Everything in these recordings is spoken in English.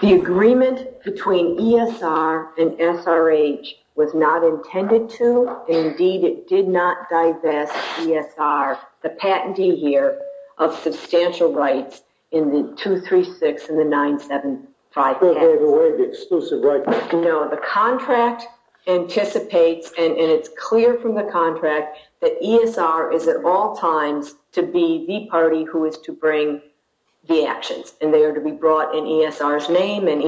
The agreement between ESR and SRH was not intended to, indeed it did not divest ESR, the patentee here of substantial rights in the 236 and the 975. No, the contract anticipates and it's clear from the contract that ESR is at all times to be the party who is to bring the actions and they are to be brought in ESR's name. It's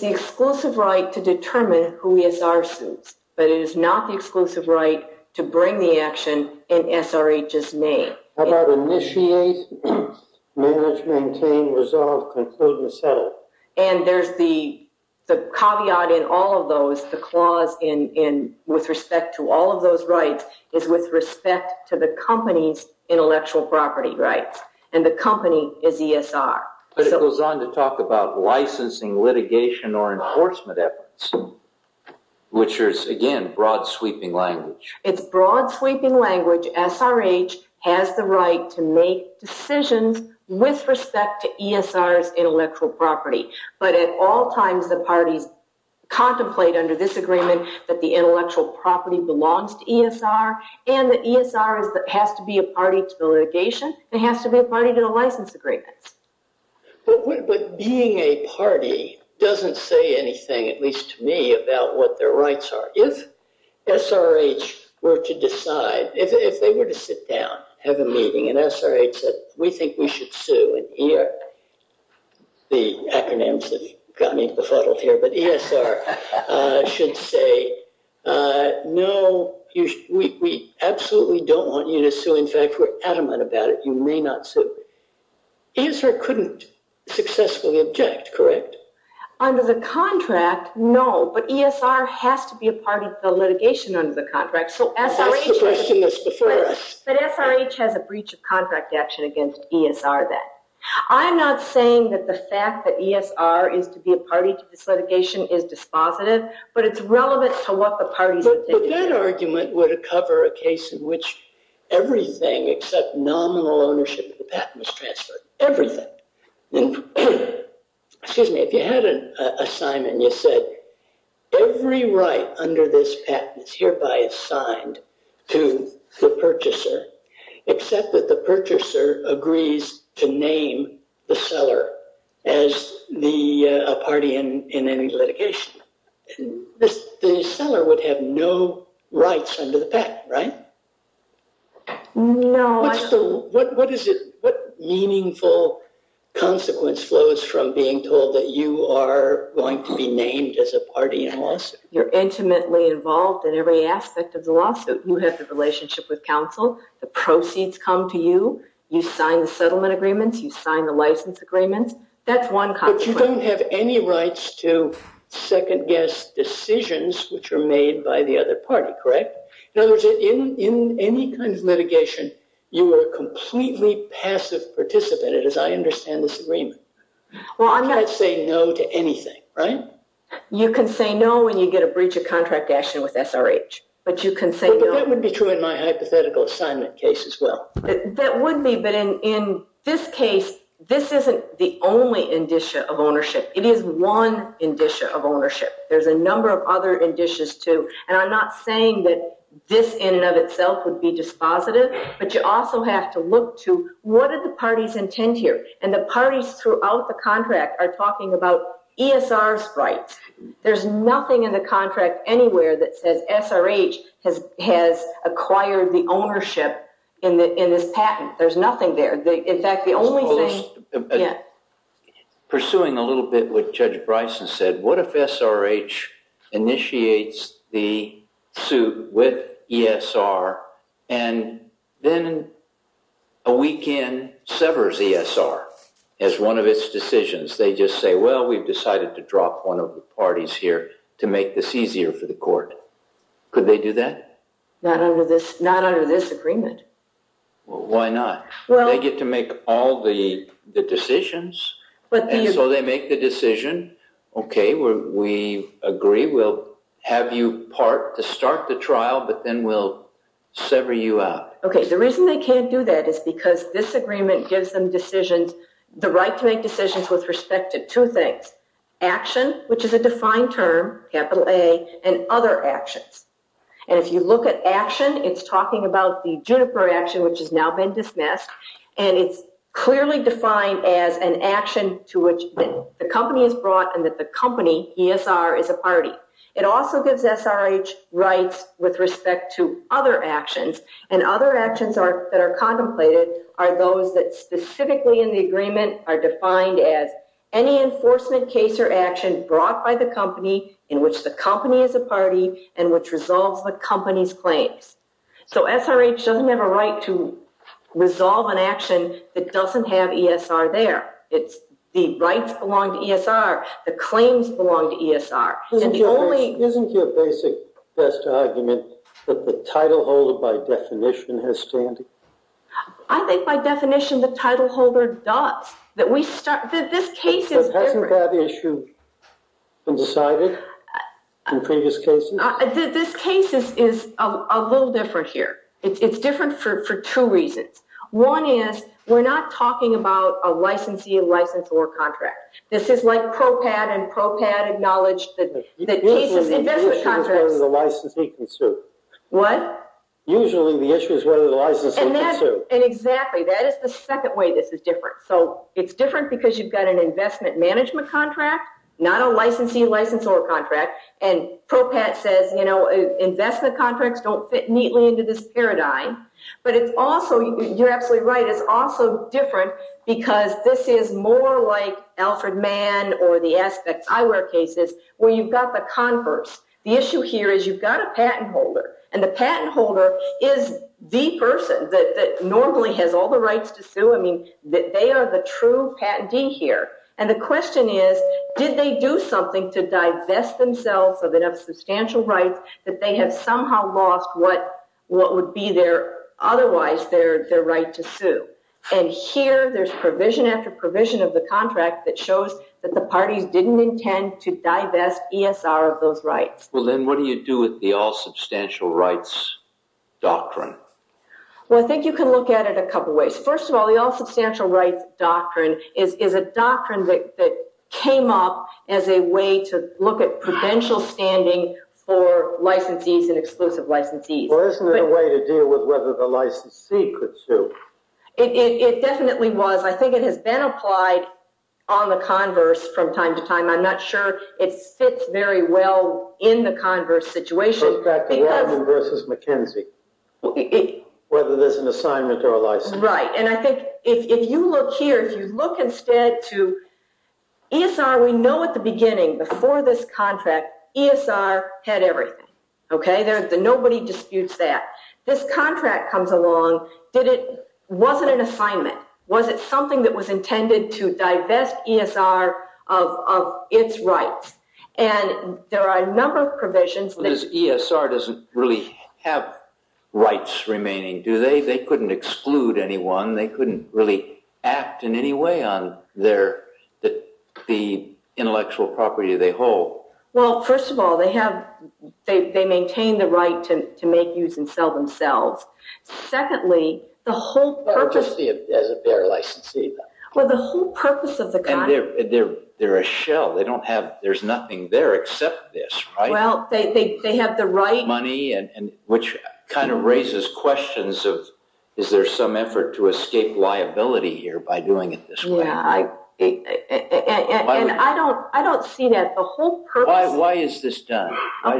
the exclusive right to determine who ESR suits but it is not the exclusive right to bring the action in SRH's name. And there's the caveat in all of those, the clause in with respect to all of those rights is with respect to the company's intellectual property rights and the company is ESR. But it goes on to talk about licensing litigation or enforcement efforts which is again broad sweeping language. It's broad sweeping language, SRH has the right to make decisions with respect to ESR's intellectual property but at all times the parties contemplate under this agreement that the intellectual property belongs to ESR and the ESR has to be a party to the license agreement. But being a party doesn't say anything at least to me about what their rights are. If SRH were to decide, if they were to sit down, have a meeting and SRH said we think we should sue and the acronyms have gotten me befuddled here but ESR should say no, we absolutely don't want you to sue, in fact we're adamant about it, you may not sue. ESR couldn't successfully object, correct? Under the contract, no, but ESR has to be a party to the litigation under the contract. But SRH has a breach of contract action against ESR then. I'm not saying that the fact that ESR is to be a party to this litigation is dispositive but it's relevant to what the parties... But that argument would cover a case in which everything except nominal ownership of the patent was transferred, everything. Excuse me, if you had an assignment and you said every right under this patent is hereby assigned to the purchaser except that the purchaser agrees to name the seller as a party in any litigation, the seller would have no rights under the patent, right? What meaningful consequence flows from being told that you are going to be named as a party in a lawsuit? You're intimately involved in every aspect of the lawsuit, you have the relationship with counsel, the proceeds come to you, you sign the settlement agreements, you sign the license agreements, that's one consequence. But you don't have any rights to second-guess decisions which are made by the other party, correct? In other words, in any kind of litigation, you are a completely passive participant, as I understand this agreement. You can't say no to anything, right? You can say no when you get a breach of contract action with SRH. But that would be true in my hypothetical assignment case as well. That would be, but in this case, this isn't the only indicia of ownership. It is one indicia of ownership. There's a number of other indicias too, and I'm not saying that this in and of itself would be dispositive, but you also have to look to what do the parties intend here? And the parties throughout the contract are talking about ESR sprites. There's nothing in the contract anywhere that says SRH has acquired the ownership in this patent. There's nothing there. In fact, the only thing... Pursuing a little bit what Judge Bryson said, what if SRH initiates the suit with ESR and then a weekend severs ESR as one of its decisions? They just say, well, we've decided to drop one of the parties here to make this easier for the court. Could they do that? Not under this agreement. Why not? They get to make all the decisions, and so they make the decision, okay, we agree. We'll have you part to start the trial, but then we'll sever you out. Okay. The reason they can't do that is because this agreement gives them decisions, the right to make decisions with respect to two things. Action, which is a defined term, capital A, and other actions. And if you look at action, it's talking about the Juniper action, which has now been dismissed, and it's clearly defined as an action to which the company is brought and that the company, ESR, is a party. It also gives SRH rights with respect to other actions, and other actions that are contemplated are those that specifically in the agreement are defined as any enforcement case or action brought by the company in which the company is a party and which resolves the company's claims. So SRH doesn't have a right to resolve an action that rights belong to ESR, the claims belong to ESR. Isn't your basic best argument that the title holder by definition has standing? I think by definition the title holder does. This case is different. Hasn't that issue been decided in previous cases? This case is a little different here. It's different for two reasons. One is we're not talking about a licensee, license, or contract. This is like PROPAT and PROPAT acknowledged that the case is investment contracts. Usually the issue is whether the licensee can sue. What? Usually the issue is whether the licensee can sue. And exactly. That is the second way this is different. So it's different because you've got an investment management contract, not a licensee, license, or contract, and PROPAT says, you know, investment contracts don't fit neatly into this paradigm. But it's also, you're absolutely right, it's also different because this is more like Alfred Mann or the Aspects Eyewear cases where you've got the converse. The issue here is you've got a patent holder and the patent holder is the person that normally has all the rights to sue. I mean, they are the true patentee here. And the question is, did they do something to divest themselves of substantial rights that they have somehow lost what would be otherwise their right to sue? And here there's provision after provision of the contract that shows that the parties didn't intend to divest ESR of those rights. Well, then what do you do with the all substantial rights doctrine? Well, I think you can look at it a couple ways. First of all, the all substantial rights doctrine is a doctrine that came up as a way to look at prudential standing for licensees and exclusive licensees. Well, isn't there a way to deal with whether the licensee could sue? It definitely was. I think it has been applied on the converse from time to time. I'm not sure it fits very well in the converse situation. It goes back to if you look here, if you look instead to ESR, we know at the beginning before this contract, ESR had everything. Okay? Nobody disputes that. This contract comes along. Was it an assignment? Was it something that was intended to divest ESR of its rights? And there are a number of provisions. ESR doesn't really have rights remaining, do they? They couldn't exclude anyone. They couldn't really act in any way on the intellectual property they hold. Well, first of all, they maintain the right to make, use, and sell themselves. Secondly, the whole purpose of the contract. They're a shell. There's nothing there except this, right? They have the right money, which kind of raises questions of is there some effort to escape liability here by doing it this way? I don't see that. Why is this done?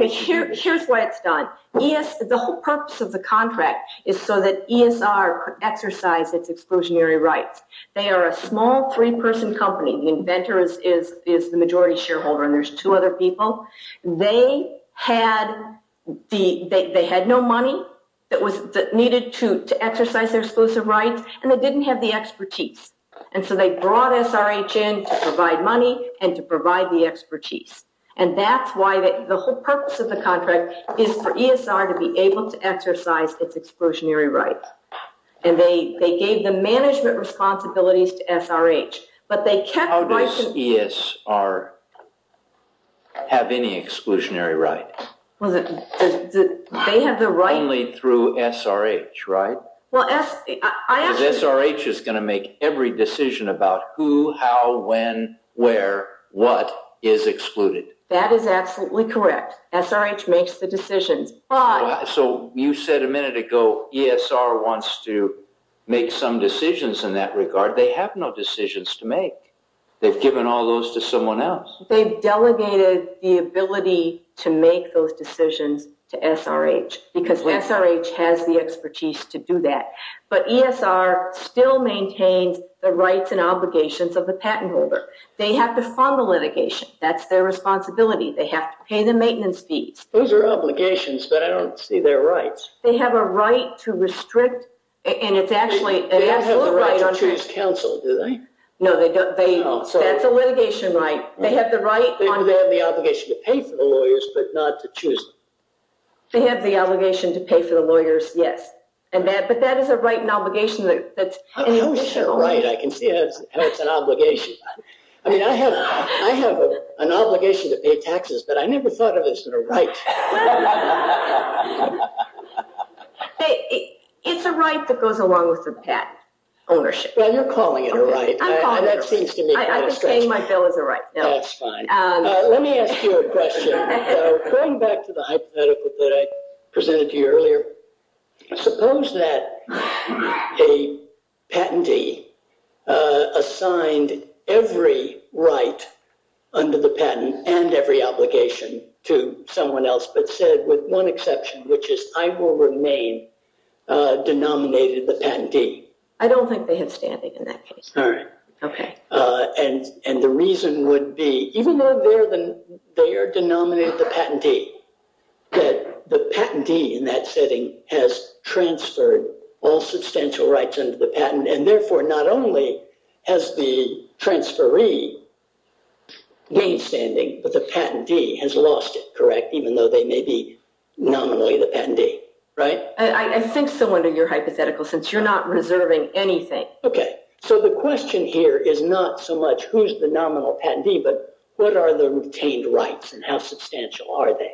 Here's why it's done. The whole purpose of the contract is so that ESR could exercise its exclusionary rights. They are a small three-person company. The inventor is the company. They had no money that was needed to exercise their exclusive rights, and they didn't have the expertise. And so they brought SRH in to provide money and to provide the expertise. And that's why the whole purpose of the contract is for ESR to be able to exercise its exclusionary rights. And they gave the management responsibilities to SRH. But they kept ESR have any exclusionary right? Only through SRH, right? SRH is going to make every decision about who, how, when, where, what is excluded. That is absolutely correct. SRH makes the decisions. So you said a minute ago ESR wants to make some decisions in that regard. They have no decisions to make. They've given all those to someone else. They've delegated the ability to make those decisions to SRH, because SRH has the expertise to do that. But ESR still maintains the rights and obligations of the patent holder. They have to fund the litigation. That's their responsibility. They have to pay the maintenance fees. Those are obligations, but I don't see their rights. They have a right to restrict, and it's actually an absolute right. They have the obligation to pay for the lawyers, but not to choose them. They have the obligation to pay for the lawyers, yes. But that is a right and obligation. I can see that's an obligation. I mean, I have an obligation to pay taxes, but I never thought of this as a right. It's a right that goes along with the patent ownership. Well, you're calling it a right. I'm calling it a right. I'm just saying my bill is a right. That's fine. Let me ask you a question. Going back to the hypothetical that I presented to you earlier, suppose that a patentee assigned every right under the patent and every obligation to someone else, but said with one exception, which is I will remain, denominated the patentee. I don't think they have standing in that case. All right. Okay. And the reason would be, even though they are denominated the patentee, that the patentee in that setting has transferred all substantial rights under the patent, and therefore not only has the transferee gained standing, but the patentee has lost it, correct, even though they may be nominally the patentee, right? I think so under your hypothetical, since you're not reserving anything. Okay. So the question here is not so much who's the nominal patentee, but what are the retained rights and how substantial are they?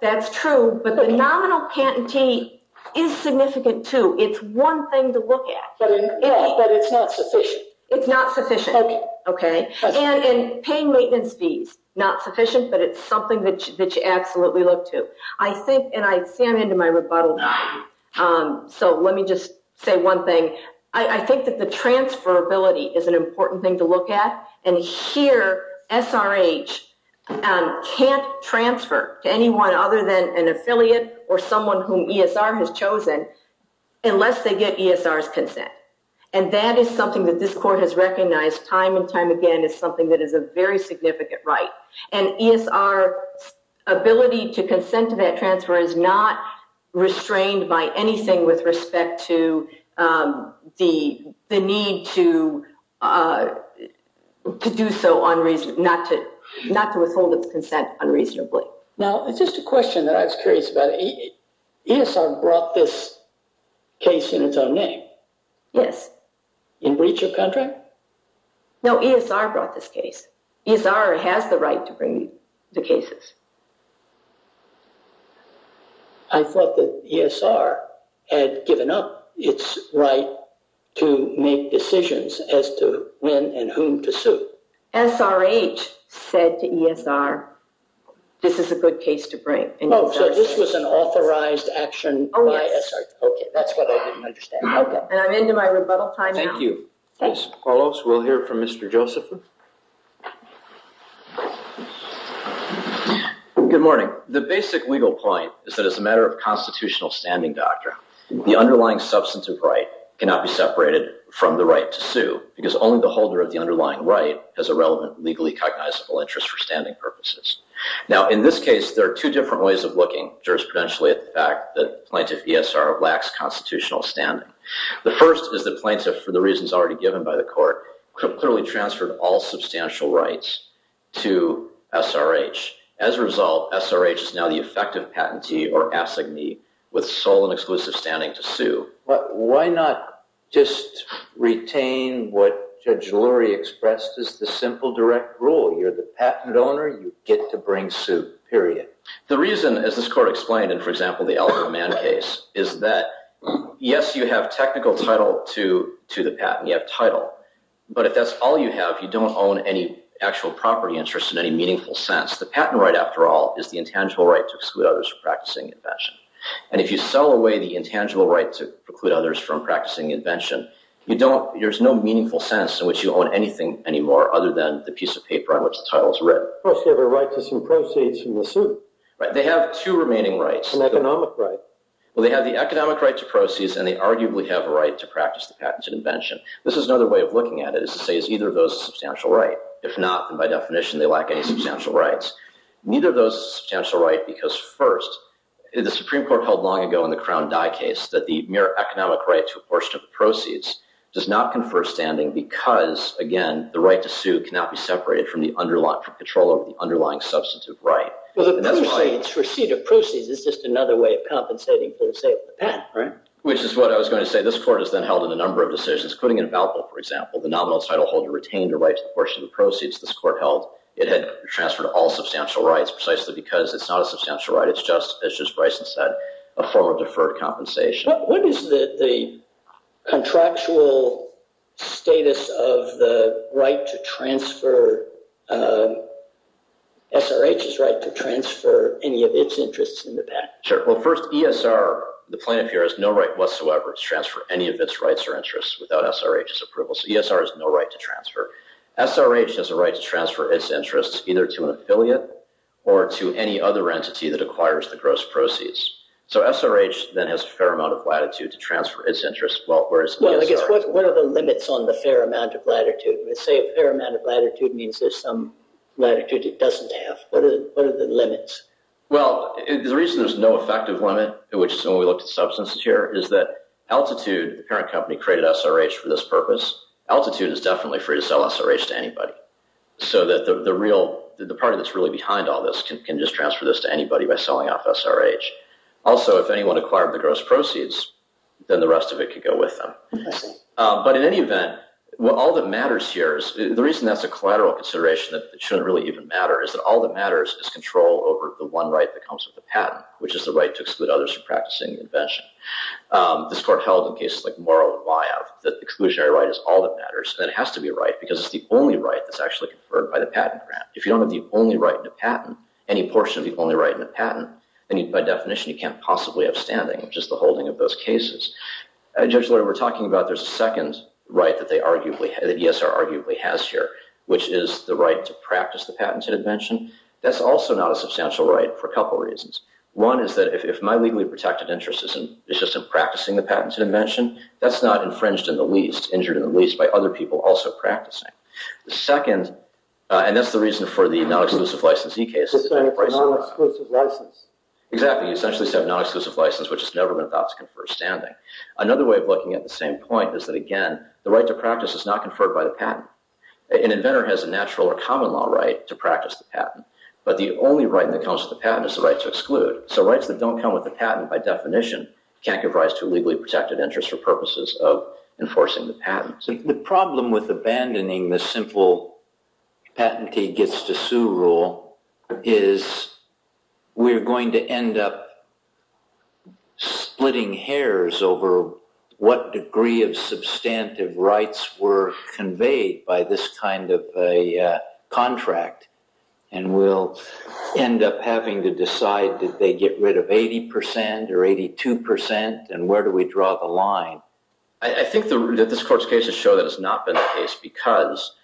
That's true, but the nominal patentee is significant too. It's one thing to look at. But it's not sufficient. It's not sufficient. Okay. And paying maintenance fees, not sufficient, but it's something that you absolutely look to. I think, and I see I'm into my rebuttal now. So let me just say one thing. I think that the transferability is an important thing to look at. And here SRH can't transfer to anyone other than an affiliate or someone whom ESR has chosen unless they get ESR's consent. And that is something that this ESR's ability to consent to that transfer is not restrained by anything with respect to the need to do so unreasonably, not to withhold its consent unreasonably. Now, it's just a question that I was curious about. ESR brought this case in its own name? Yes. In breach of contract? No, ESR brought this case. ESR has the right to bring the cases. I thought that ESR had given up its right to make decisions as to when and whom to sue. SRH said to ESR, this is a good case to bring. Oh, so this was an authorized action by SRH. Okay. That's what I didn't understand. Okay. And I'm into my rebuttal time now. Thank you. Carlos, we'll hear from Mr. Joseph. Good morning. The basic legal point is that as a matter of constitutional standing doctrine, the underlying substantive right cannot be separated from the right to sue because only the holder of the underlying right has a relevant legally cognizable interest for standing purposes. Now, in this case, there are two different ways of looking jurisprudentially at the fact that ESR lacks constitutional standing. The first is the plaintiff, for the reasons already given by the court, clearly transferred all substantial rights to SRH. As a result, SRH is now the effective patentee or assignee with sole and exclusive standing to sue. But why not just retain what Judge Lurie expressed as the simple direct rule? You're the patent owner. You get to bring suit, period. The reason, as this court explained, for example, the Eleanor Mann case, is that, yes, you have technical title to the patent. You have title. But if that's all you have, you don't own any actual property interest in any meaningful sense. The patent right, after all, is the intangible right to exclude others from practicing invention. And if you sell away the intangible right to preclude others from practicing invention, there's no meaningful sense in which you own anything anymore other than the piece of paper on which the title is written. Of course, you have a right to some proceeds from the suit. Right. They have two remaining rights. An economic right. Well, they have the economic right to proceeds, and they arguably have a right to practice the patented invention. This is another way of looking at it, is to say, is either of those a substantial right? If not, then by definition, they lack any substantial rights. Neither of those is a substantial right because, first, the Supreme Court held long ago in the Crown Dye case that the mere economic right to a portion of the proceeds does not confer standing because, again, the right to sue cannot be separated from the underlying control over the underlying substantive right. Well, the proceeds, receipt of proceeds, is just another way of compensating for the sale of the patent. Which is what I was going to say. This Court has then held in a number of decisions, including in Balbo, for example, the nominal title holder retained a right to a portion of the proceeds this Court held. It had transferred all substantial rights precisely because it's not a substantial right. It's just, as Justice Bryson said, a form of deferred compensation. What is the contractual status of the right to transfer, SRH's right to transfer any of its interests in the patent? Sure. Well, first, ESR, the plaintiff here, has no right whatsoever to transfer any of its rights or interests without SRH's approval. So ESR has no right to transfer. SRH has a right to transfer its interests either to an affiliate or to any other entity that acquires the gross proceeds. So SRH then has a fair amount of latitude to transfer its interests. What are the limits on the fair amount of latitude? Let's say a fair amount of latitude means there's some latitude it doesn't have. What are the limits? Well, the reason there's no effective limit, which is when we looked at substances here, is that Altitude, the parent company, created SRH for this purpose. Altitude is definitely free to sell SRH to anybody. So the party that's really behind all this can just transfer this to anybody by selling off SRH. Also, if anyone acquired the gross proceeds, then the rest of it could go with them. But in any event, all that matters here is, the reason that's a collateral consideration that shouldn't really even matter, is that all that matters is control over the one right that comes with the patent, which is the right to exclude others from practicing the invention. This court held in cases like Morrow and Wyeth that the exclusionary right is all that matters, and it has to be a right because it's the only right that's actually conferred by the patent grant. If you don't have the only right in a patent, then by definition, you can't possibly have standing. It's just the holding of those cases. Judge Lurie, we're talking about there's a second right that ESR arguably has here, which is the right to practice the patented invention. That's also not a substantial right for a couple reasons. One is that if my legally protected interest is just in practicing the patented invention, that's not infringed in the least, injured in the least, by other people also practicing. The second, and that's the reason for the non-exclusive licensee case. Non-exclusive license. Exactly. You essentially have a non-exclusive license, which has never been thought to confer standing. Another way of looking at the same point is that, again, the right to practice is not conferred by the patent. An inventor has a natural or common law right to practice the patent, but the only right that comes with the patent is the right to exclude. So rights that don't come with the patent, by definition, can't give rise to a legally protected interest for purposes of enforcing the patent. The problem with abandoning the simple patentee-gets-to-sue rule is we're going to end up splitting hairs over what degree of substantive rights were conveyed by this kind of a contract, and we'll end up having to decide that they get rid of 80% or 82%, and where do we draw the line? I think that this court's cases show that it's not been the case because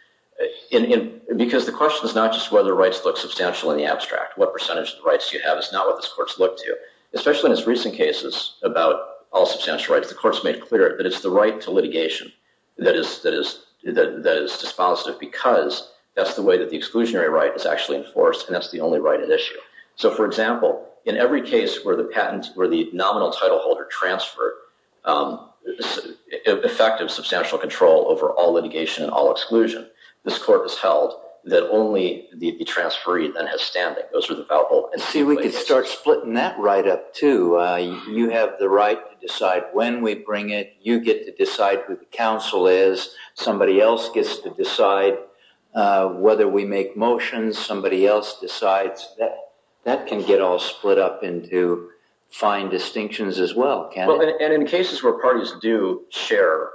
the question is not just whether rights look substantial in the abstract. What percentage of the rights you have is not what this court's looked to. Especially in its recent cases about all substantial rights, the court's made clear that it's the right to litigation that is dispositive because that's the way that the exclusionary right is actually enforced, and that's the only right at issue. So, for example, in every case where the patent, where the nominal title holder transferred effective substantial control over all litigation and all exclusion, this court has held that only the transferee then has standing. Those are the valuable... See, we could start splitting that right up, too. You have the right to decide when we bring it. You get to decide who the counsel is. Somebody else gets to decide whether we make motions. Somebody else decides. That can get all split up into fine distinctions as well. And in cases where parties do share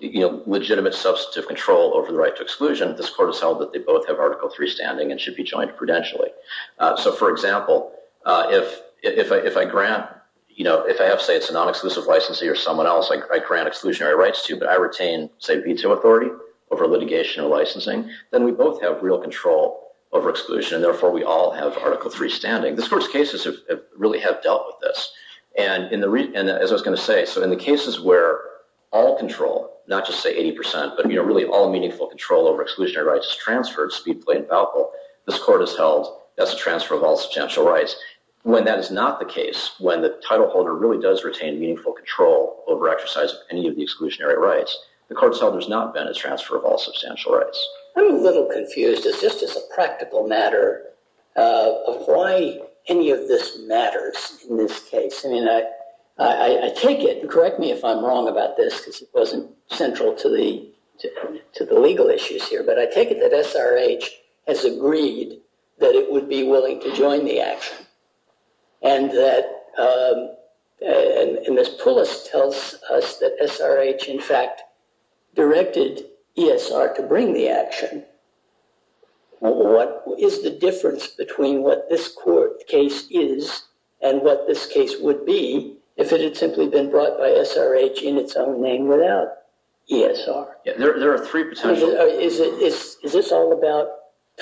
legitimate substantive control over the right to exclusion, this court has held that they both have Article III standing and should be joined prudentially. So, for example, if I have, say, a non-exclusive licensee or someone I grant exclusionary rights to, but I retain, say, veto authority over litigation or licensing, then we both have real control over exclusion, and therefore we all have Article III standing. This court's cases really have dealt with this. And as I was going to say, so in the cases where all control, not just, say, 80%, but really all meaningful control over exclusionary rights is transferred, speed, plait, and falco, this court has held that's a transfer of all substantial rights. When that is not the case, when the title holder really does retain meaningful control over exercise of any of the exclusionary rights, the court's held there's not been a transfer of all substantial rights. I'm a little confused. It's just as a practical matter of why any of this matters in this case. I mean, I take it, and correct me if I'm wrong about this because it wasn't central to the legal issues here, but I take it that SRH has agreed that it would be willing to join the action, and that, and Ms. Poulos tells us that SRH, in fact, directed ESR to bring the action. What is the difference between what this court case is and what this case would be if it had simply been brought by SRH in its own name without ESR? Yeah, there are three Is this all about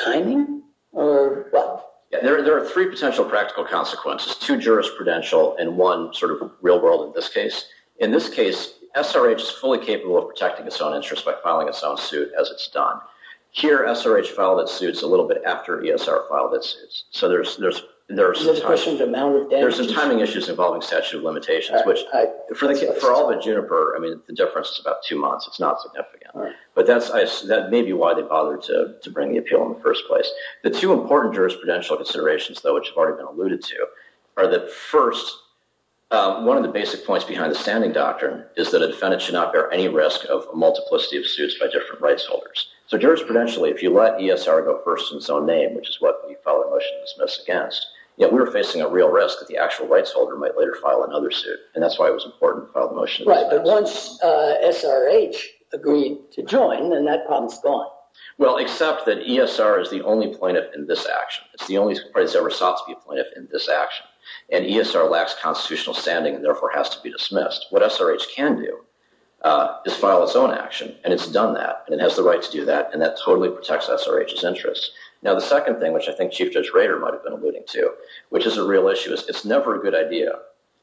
timing? There are three potential practical consequences, two jurisprudential, and one sort of real world in this case. In this case, SRH is fully capable of protecting its own interest by filing its own suit as it's done. Here, SRH filed its suits a little bit after ESR filed its suits, so there's some timing issues involving statute of limitations, which for all may be why they bothered to bring the appeal in the first place. The two important jurisprudential considerations, though, which have already been alluded to, are that first, one of the basic points behind the standing doctrine is that a defendant should not bear any risk of a multiplicity of suits by different rights holders. So, jurisprudentially, if you let ESR go first in its own name, which is what you file a motion to dismiss against, yet we were facing a real risk that the actual rights holder might later file another suit, and that's why it was important to SRH agreed to join, and that problem's gone. Well, except that ESR is the only plaintiff in this action. It's the only party that's ever sought to be a plaintiff in this action, and ESR lacks constitutional standing and therefore has to be dismissed. What SRH can do is file its own action, and it's done that, and it has the right to do that, and that totally protects SRH's interests. Now, the second thing, which I think Chief Judge Rader might have been alluding to, which is a real issue, is it's never a good idea,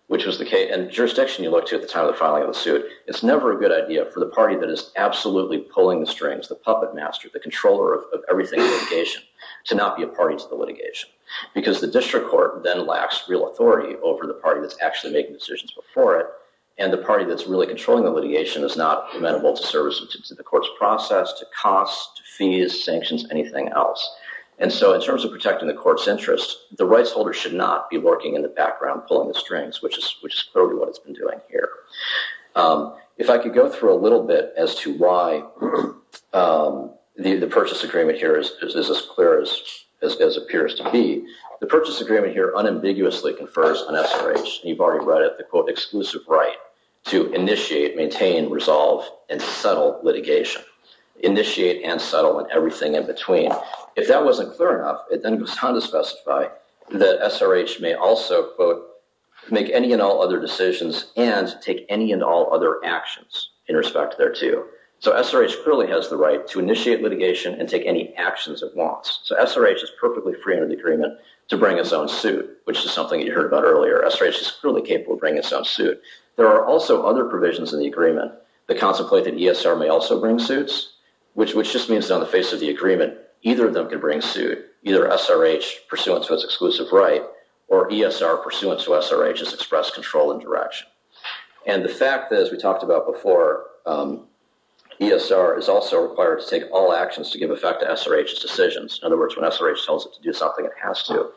which was the case, and the jurisdiction you look to at the filing of the suit, it's never a good idea for the party that is absolutely pulling the strings, the puppet master, the controller of everything in litigation, to not be a party to the litigation, because the district court then lacks real authority over the party that's actually making decisions before it, and the party that's really controlling the litigation is not amenable to the court's process, to costs, to fees, sanctions, anything else. And so, in terms of protecting the court's interests, the rights holder should not be lurking in the background, pulling the strings, which is totally what it's been doing here. If I could go through a little bit as to why the purchase agreement here is as clear as appears to be, the purchase agreement here unambiguously confers on SRH, and you've already read it, the quote, exclusive right to initiate, maintain, resolve, and settle litigation, initiate and settle, and everything in between. If that wasn't clear enough, then it was time to specify that SRH may also, quote, make any and all other decisions and take any and all other actions in respect thereto. So SRH clearly has the right to initiate litigation and take any actions it wants. So SRH is perfectly free under the agreement to bring its own suit, which is something you heard about earlier. SRH is clearly capable of bringing its own suit. There are also other provisions in the agreement that contemplate that ESR may also bring suits, which just means that on the face of the agreement, either of them can bring suit, either SRH pursuant to its exclusive right, or ESR pursuant to SRH's express control and direction. And the fact that, as we talked about before, ESR is also required to take all actions to give effect to SRH's decisions. In other words, when SRH tells it to do something, it has to.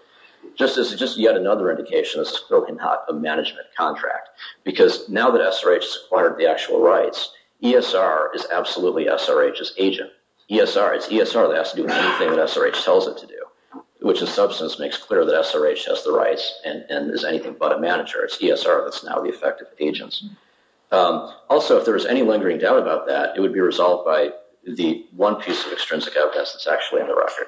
Just as just yet another indication, this is clearly not a management contract, because now that SRH has acquired the actual rights, ESR is absolutely SRH's agent. ESR, it's ESR that has to do anything that SRH tells it to do, which in substance makes clear that SRH has the rights and is anything but a manager. It's ESR that's now the effective agent. Also, if there is any lingering doubt about that, it would be resolved by the one piece of extrinsic evidence that's actually on the record,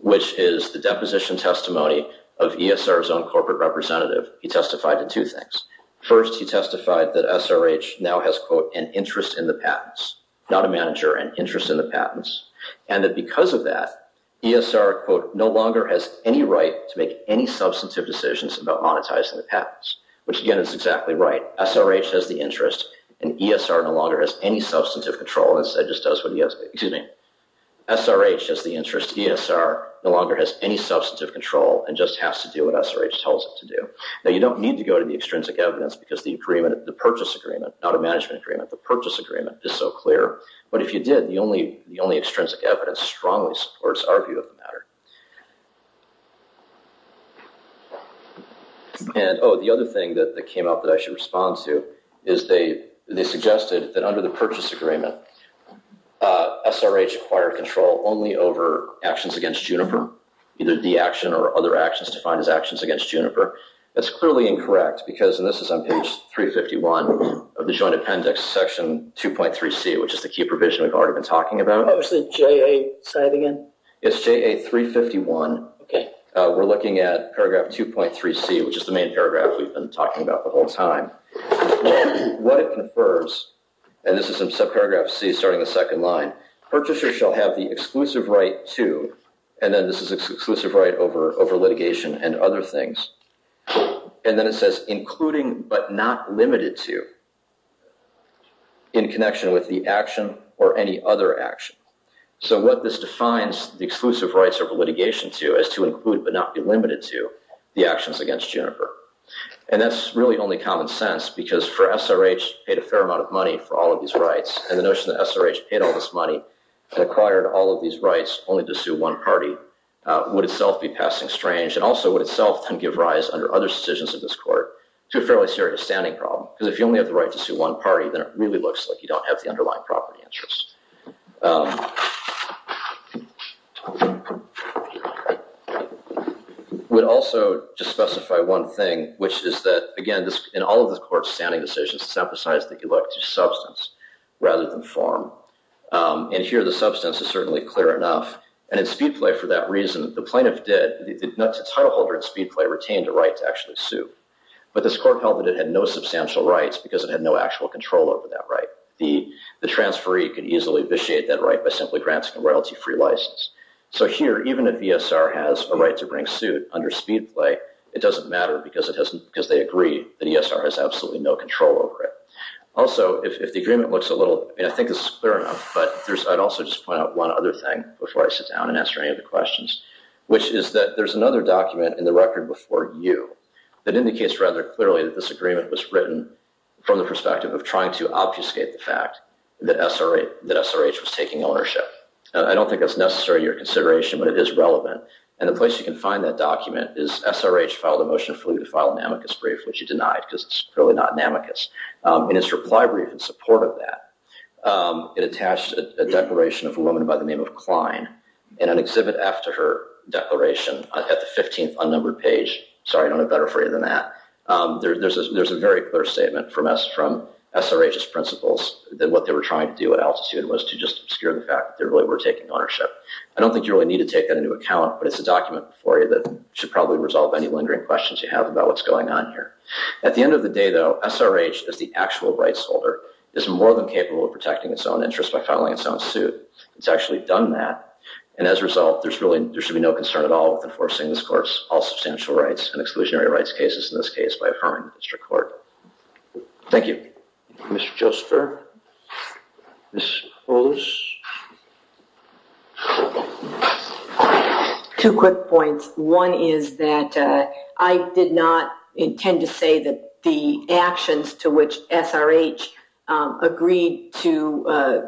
which is the deposition testimony of ESR's own First, he testified that SRH now has, quote, an interest in the patents, not a manager, an interest in the patents, and that because of that, ESR, quote, no longer has any right to make any substantive decisions about monetizing the patents, which again, is exactly right. SRH has the interest, and ESR no longer has any substantive control. That just does what he has, excuse me, SRH has the interest, ESR no longer has any substantive control and just has to do SRH tells it to do. Now, you don't need to go to the extrinsic evidence because the agreement, the purchase agreement, not a management agreement, the purchase agreement is so clear, but if you did, the only extrinsic evidence strongly supports our view of the matter. And, oh, the other thing that came up that I should respond to is they suggested that under the purchase agreement, SRH acquired control only over actions against Juniper, either the action or other actions defined as actions against Juniper. That's clearly incorrect because, and this is on page 351 of the Joint Appendix, section 2.3c, which is the key provision we've already been talking about. Oh, it's the JA side again? It's JA 351. Okay. We're looking at paragraph 2.3c, which is the main paragraph we've been talking about the whole time. What it confers, and this is in subparagraph c, starting the second line, purchaser shall have the exclusive right to, and then this is exclusive right over litigation and other things, and then it says including but not limited to in connection with the action or any other action. So, what this defines the exclusive rights over litigation to is to include but not be limited to the actions against Juniper, and that's really only common sense because for SRH, paid a fair amount of money for all of these rights, and the notion that SRH paid all this money and acquired all of these rights only to sue one party would itself be passing strange, and also would itself then give rise under other decisions of this court to a fairly serious standing problem because if you only have the right to sue one party, then it really looks like you don't have the underlying property interest. It would also just specify one thing, which is that, again, in all of this court's standing decisions, it's emphasized that you have to have a right to substance rather than form, and here the substance is certainly clear enough, and in Speedplay, for that reason, the plaintiff did, the title holder in Speedplay retained a right to actually sue, but this court held that it had no substantial rights because it had no actual control over that right. The transferee could easily vitiate that right by simply granting a royalty-free license, so here even if ESR has a right to bring suit under Speedplay, it doesn't because they agree that ESR has absolutely no control over it. Also, if the agreement looks a little, and I think this is clear enough, but I'd also just point out one other thing before I sit down and answer any of the questions, which is that there's another document in the record before you that indicates rather clearly that this agreement was written from the perspective of trying to obfuscate the fact that SRH was taking ownership. I don't think that's necessary to your consideration, but it is relevant, and the place you can find that document is SRH filed a motion for you to file a namicus brief, which you denied because it's really not namicus, and it's reply brief in support of that. It attached a declaration of a woman by the name of Klein in an exhibit after her declaration at the 15th unnumbered page. Sorry, I don't have better for you than that. There's a very clear statement from SRH's principles that what they were trying to do at altitude was to just obscure the fact that they really were taking ownership. I don't think you really need to take that into account, but it's a document before you that should probably resolve any lingering questions you have about what's going on here. At the end of the day, though, SRH, as the actual rights holder, is more than capable of protecting its own interests by filing its own suit. It's actually done that, and as a result, there should be no concern at all with enforcing this Court's all substantial rights and exclusionary rights cases in this case by Mr. Clark. Thank you. Mr. Josper? Two quick points. One is that I did not intend to say that the actions to which SRH agreed to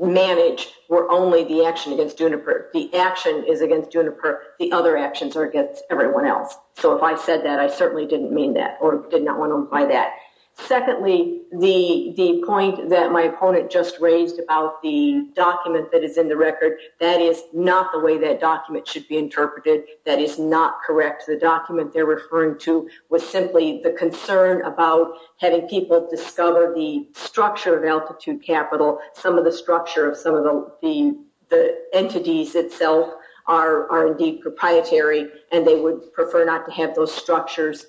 manage were only the action against Juniper. The action is against Juniper. The other actions are everyone else. So if I said that, I certainly didn't mean that or did not want to imply that. Secondly, the point that my opponent just raised about the document that is in the record, that is not the way that document should be interpreted. That is not correct. The document they're referring to was simply the concern about having people discover the structure of altitude capital, some of the structure of some of the entities itself are indeed proprietary, and they would prefer not to have those structures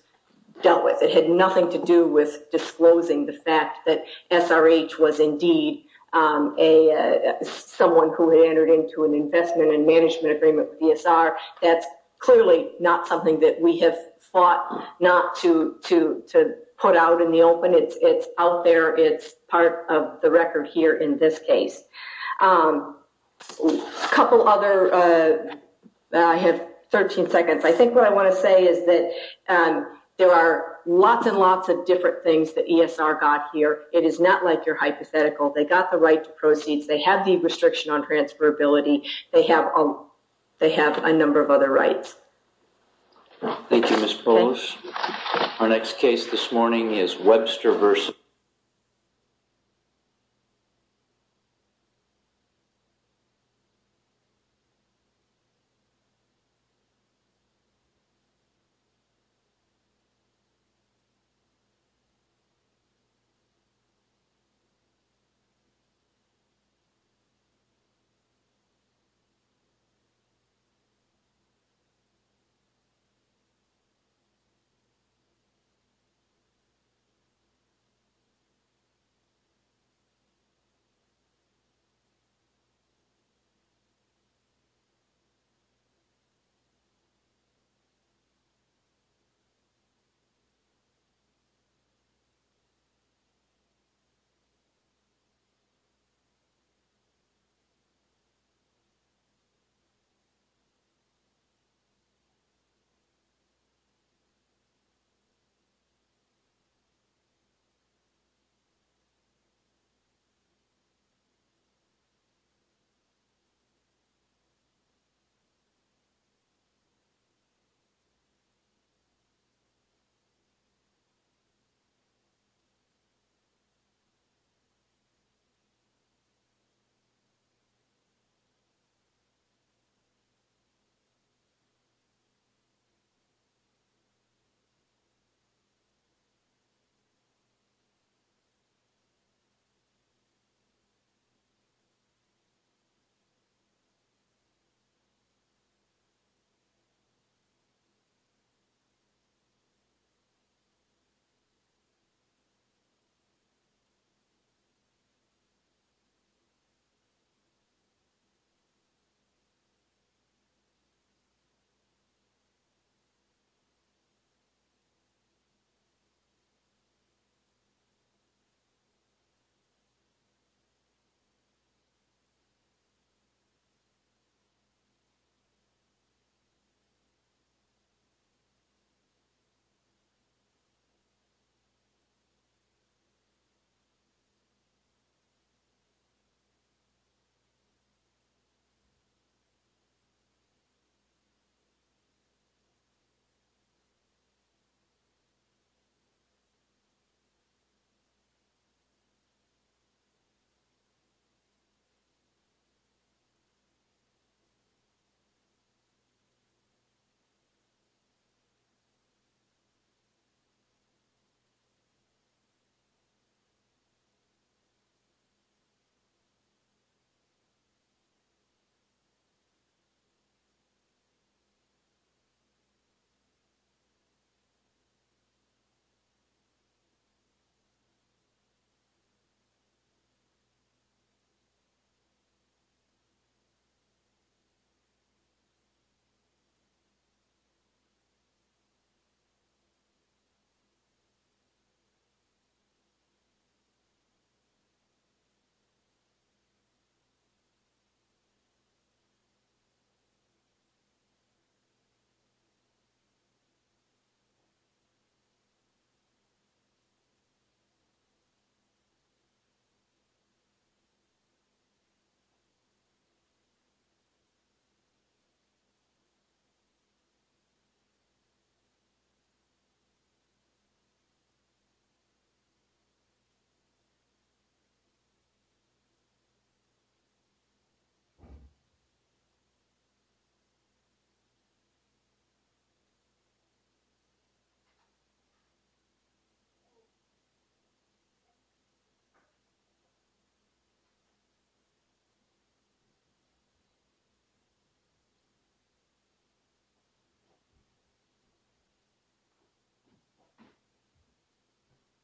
dealt with. It had nothing to do with disclosing the fact that SRH was indeed someone who had entered into an investment and management agreement with DSR. That's clearly not something that we have fought not to put out in the open. It's out there. It's part of the record here in this case. A couple other, I have 13 seconds. I think what I want to say is that there are lots and lots of different things that ESR got here. It is not like your hypothetical. They got the right to proceeds. They have the restriction on transferability. They have a number of other rights. Thank you, Ms. Polish. Our next case this morning is Webster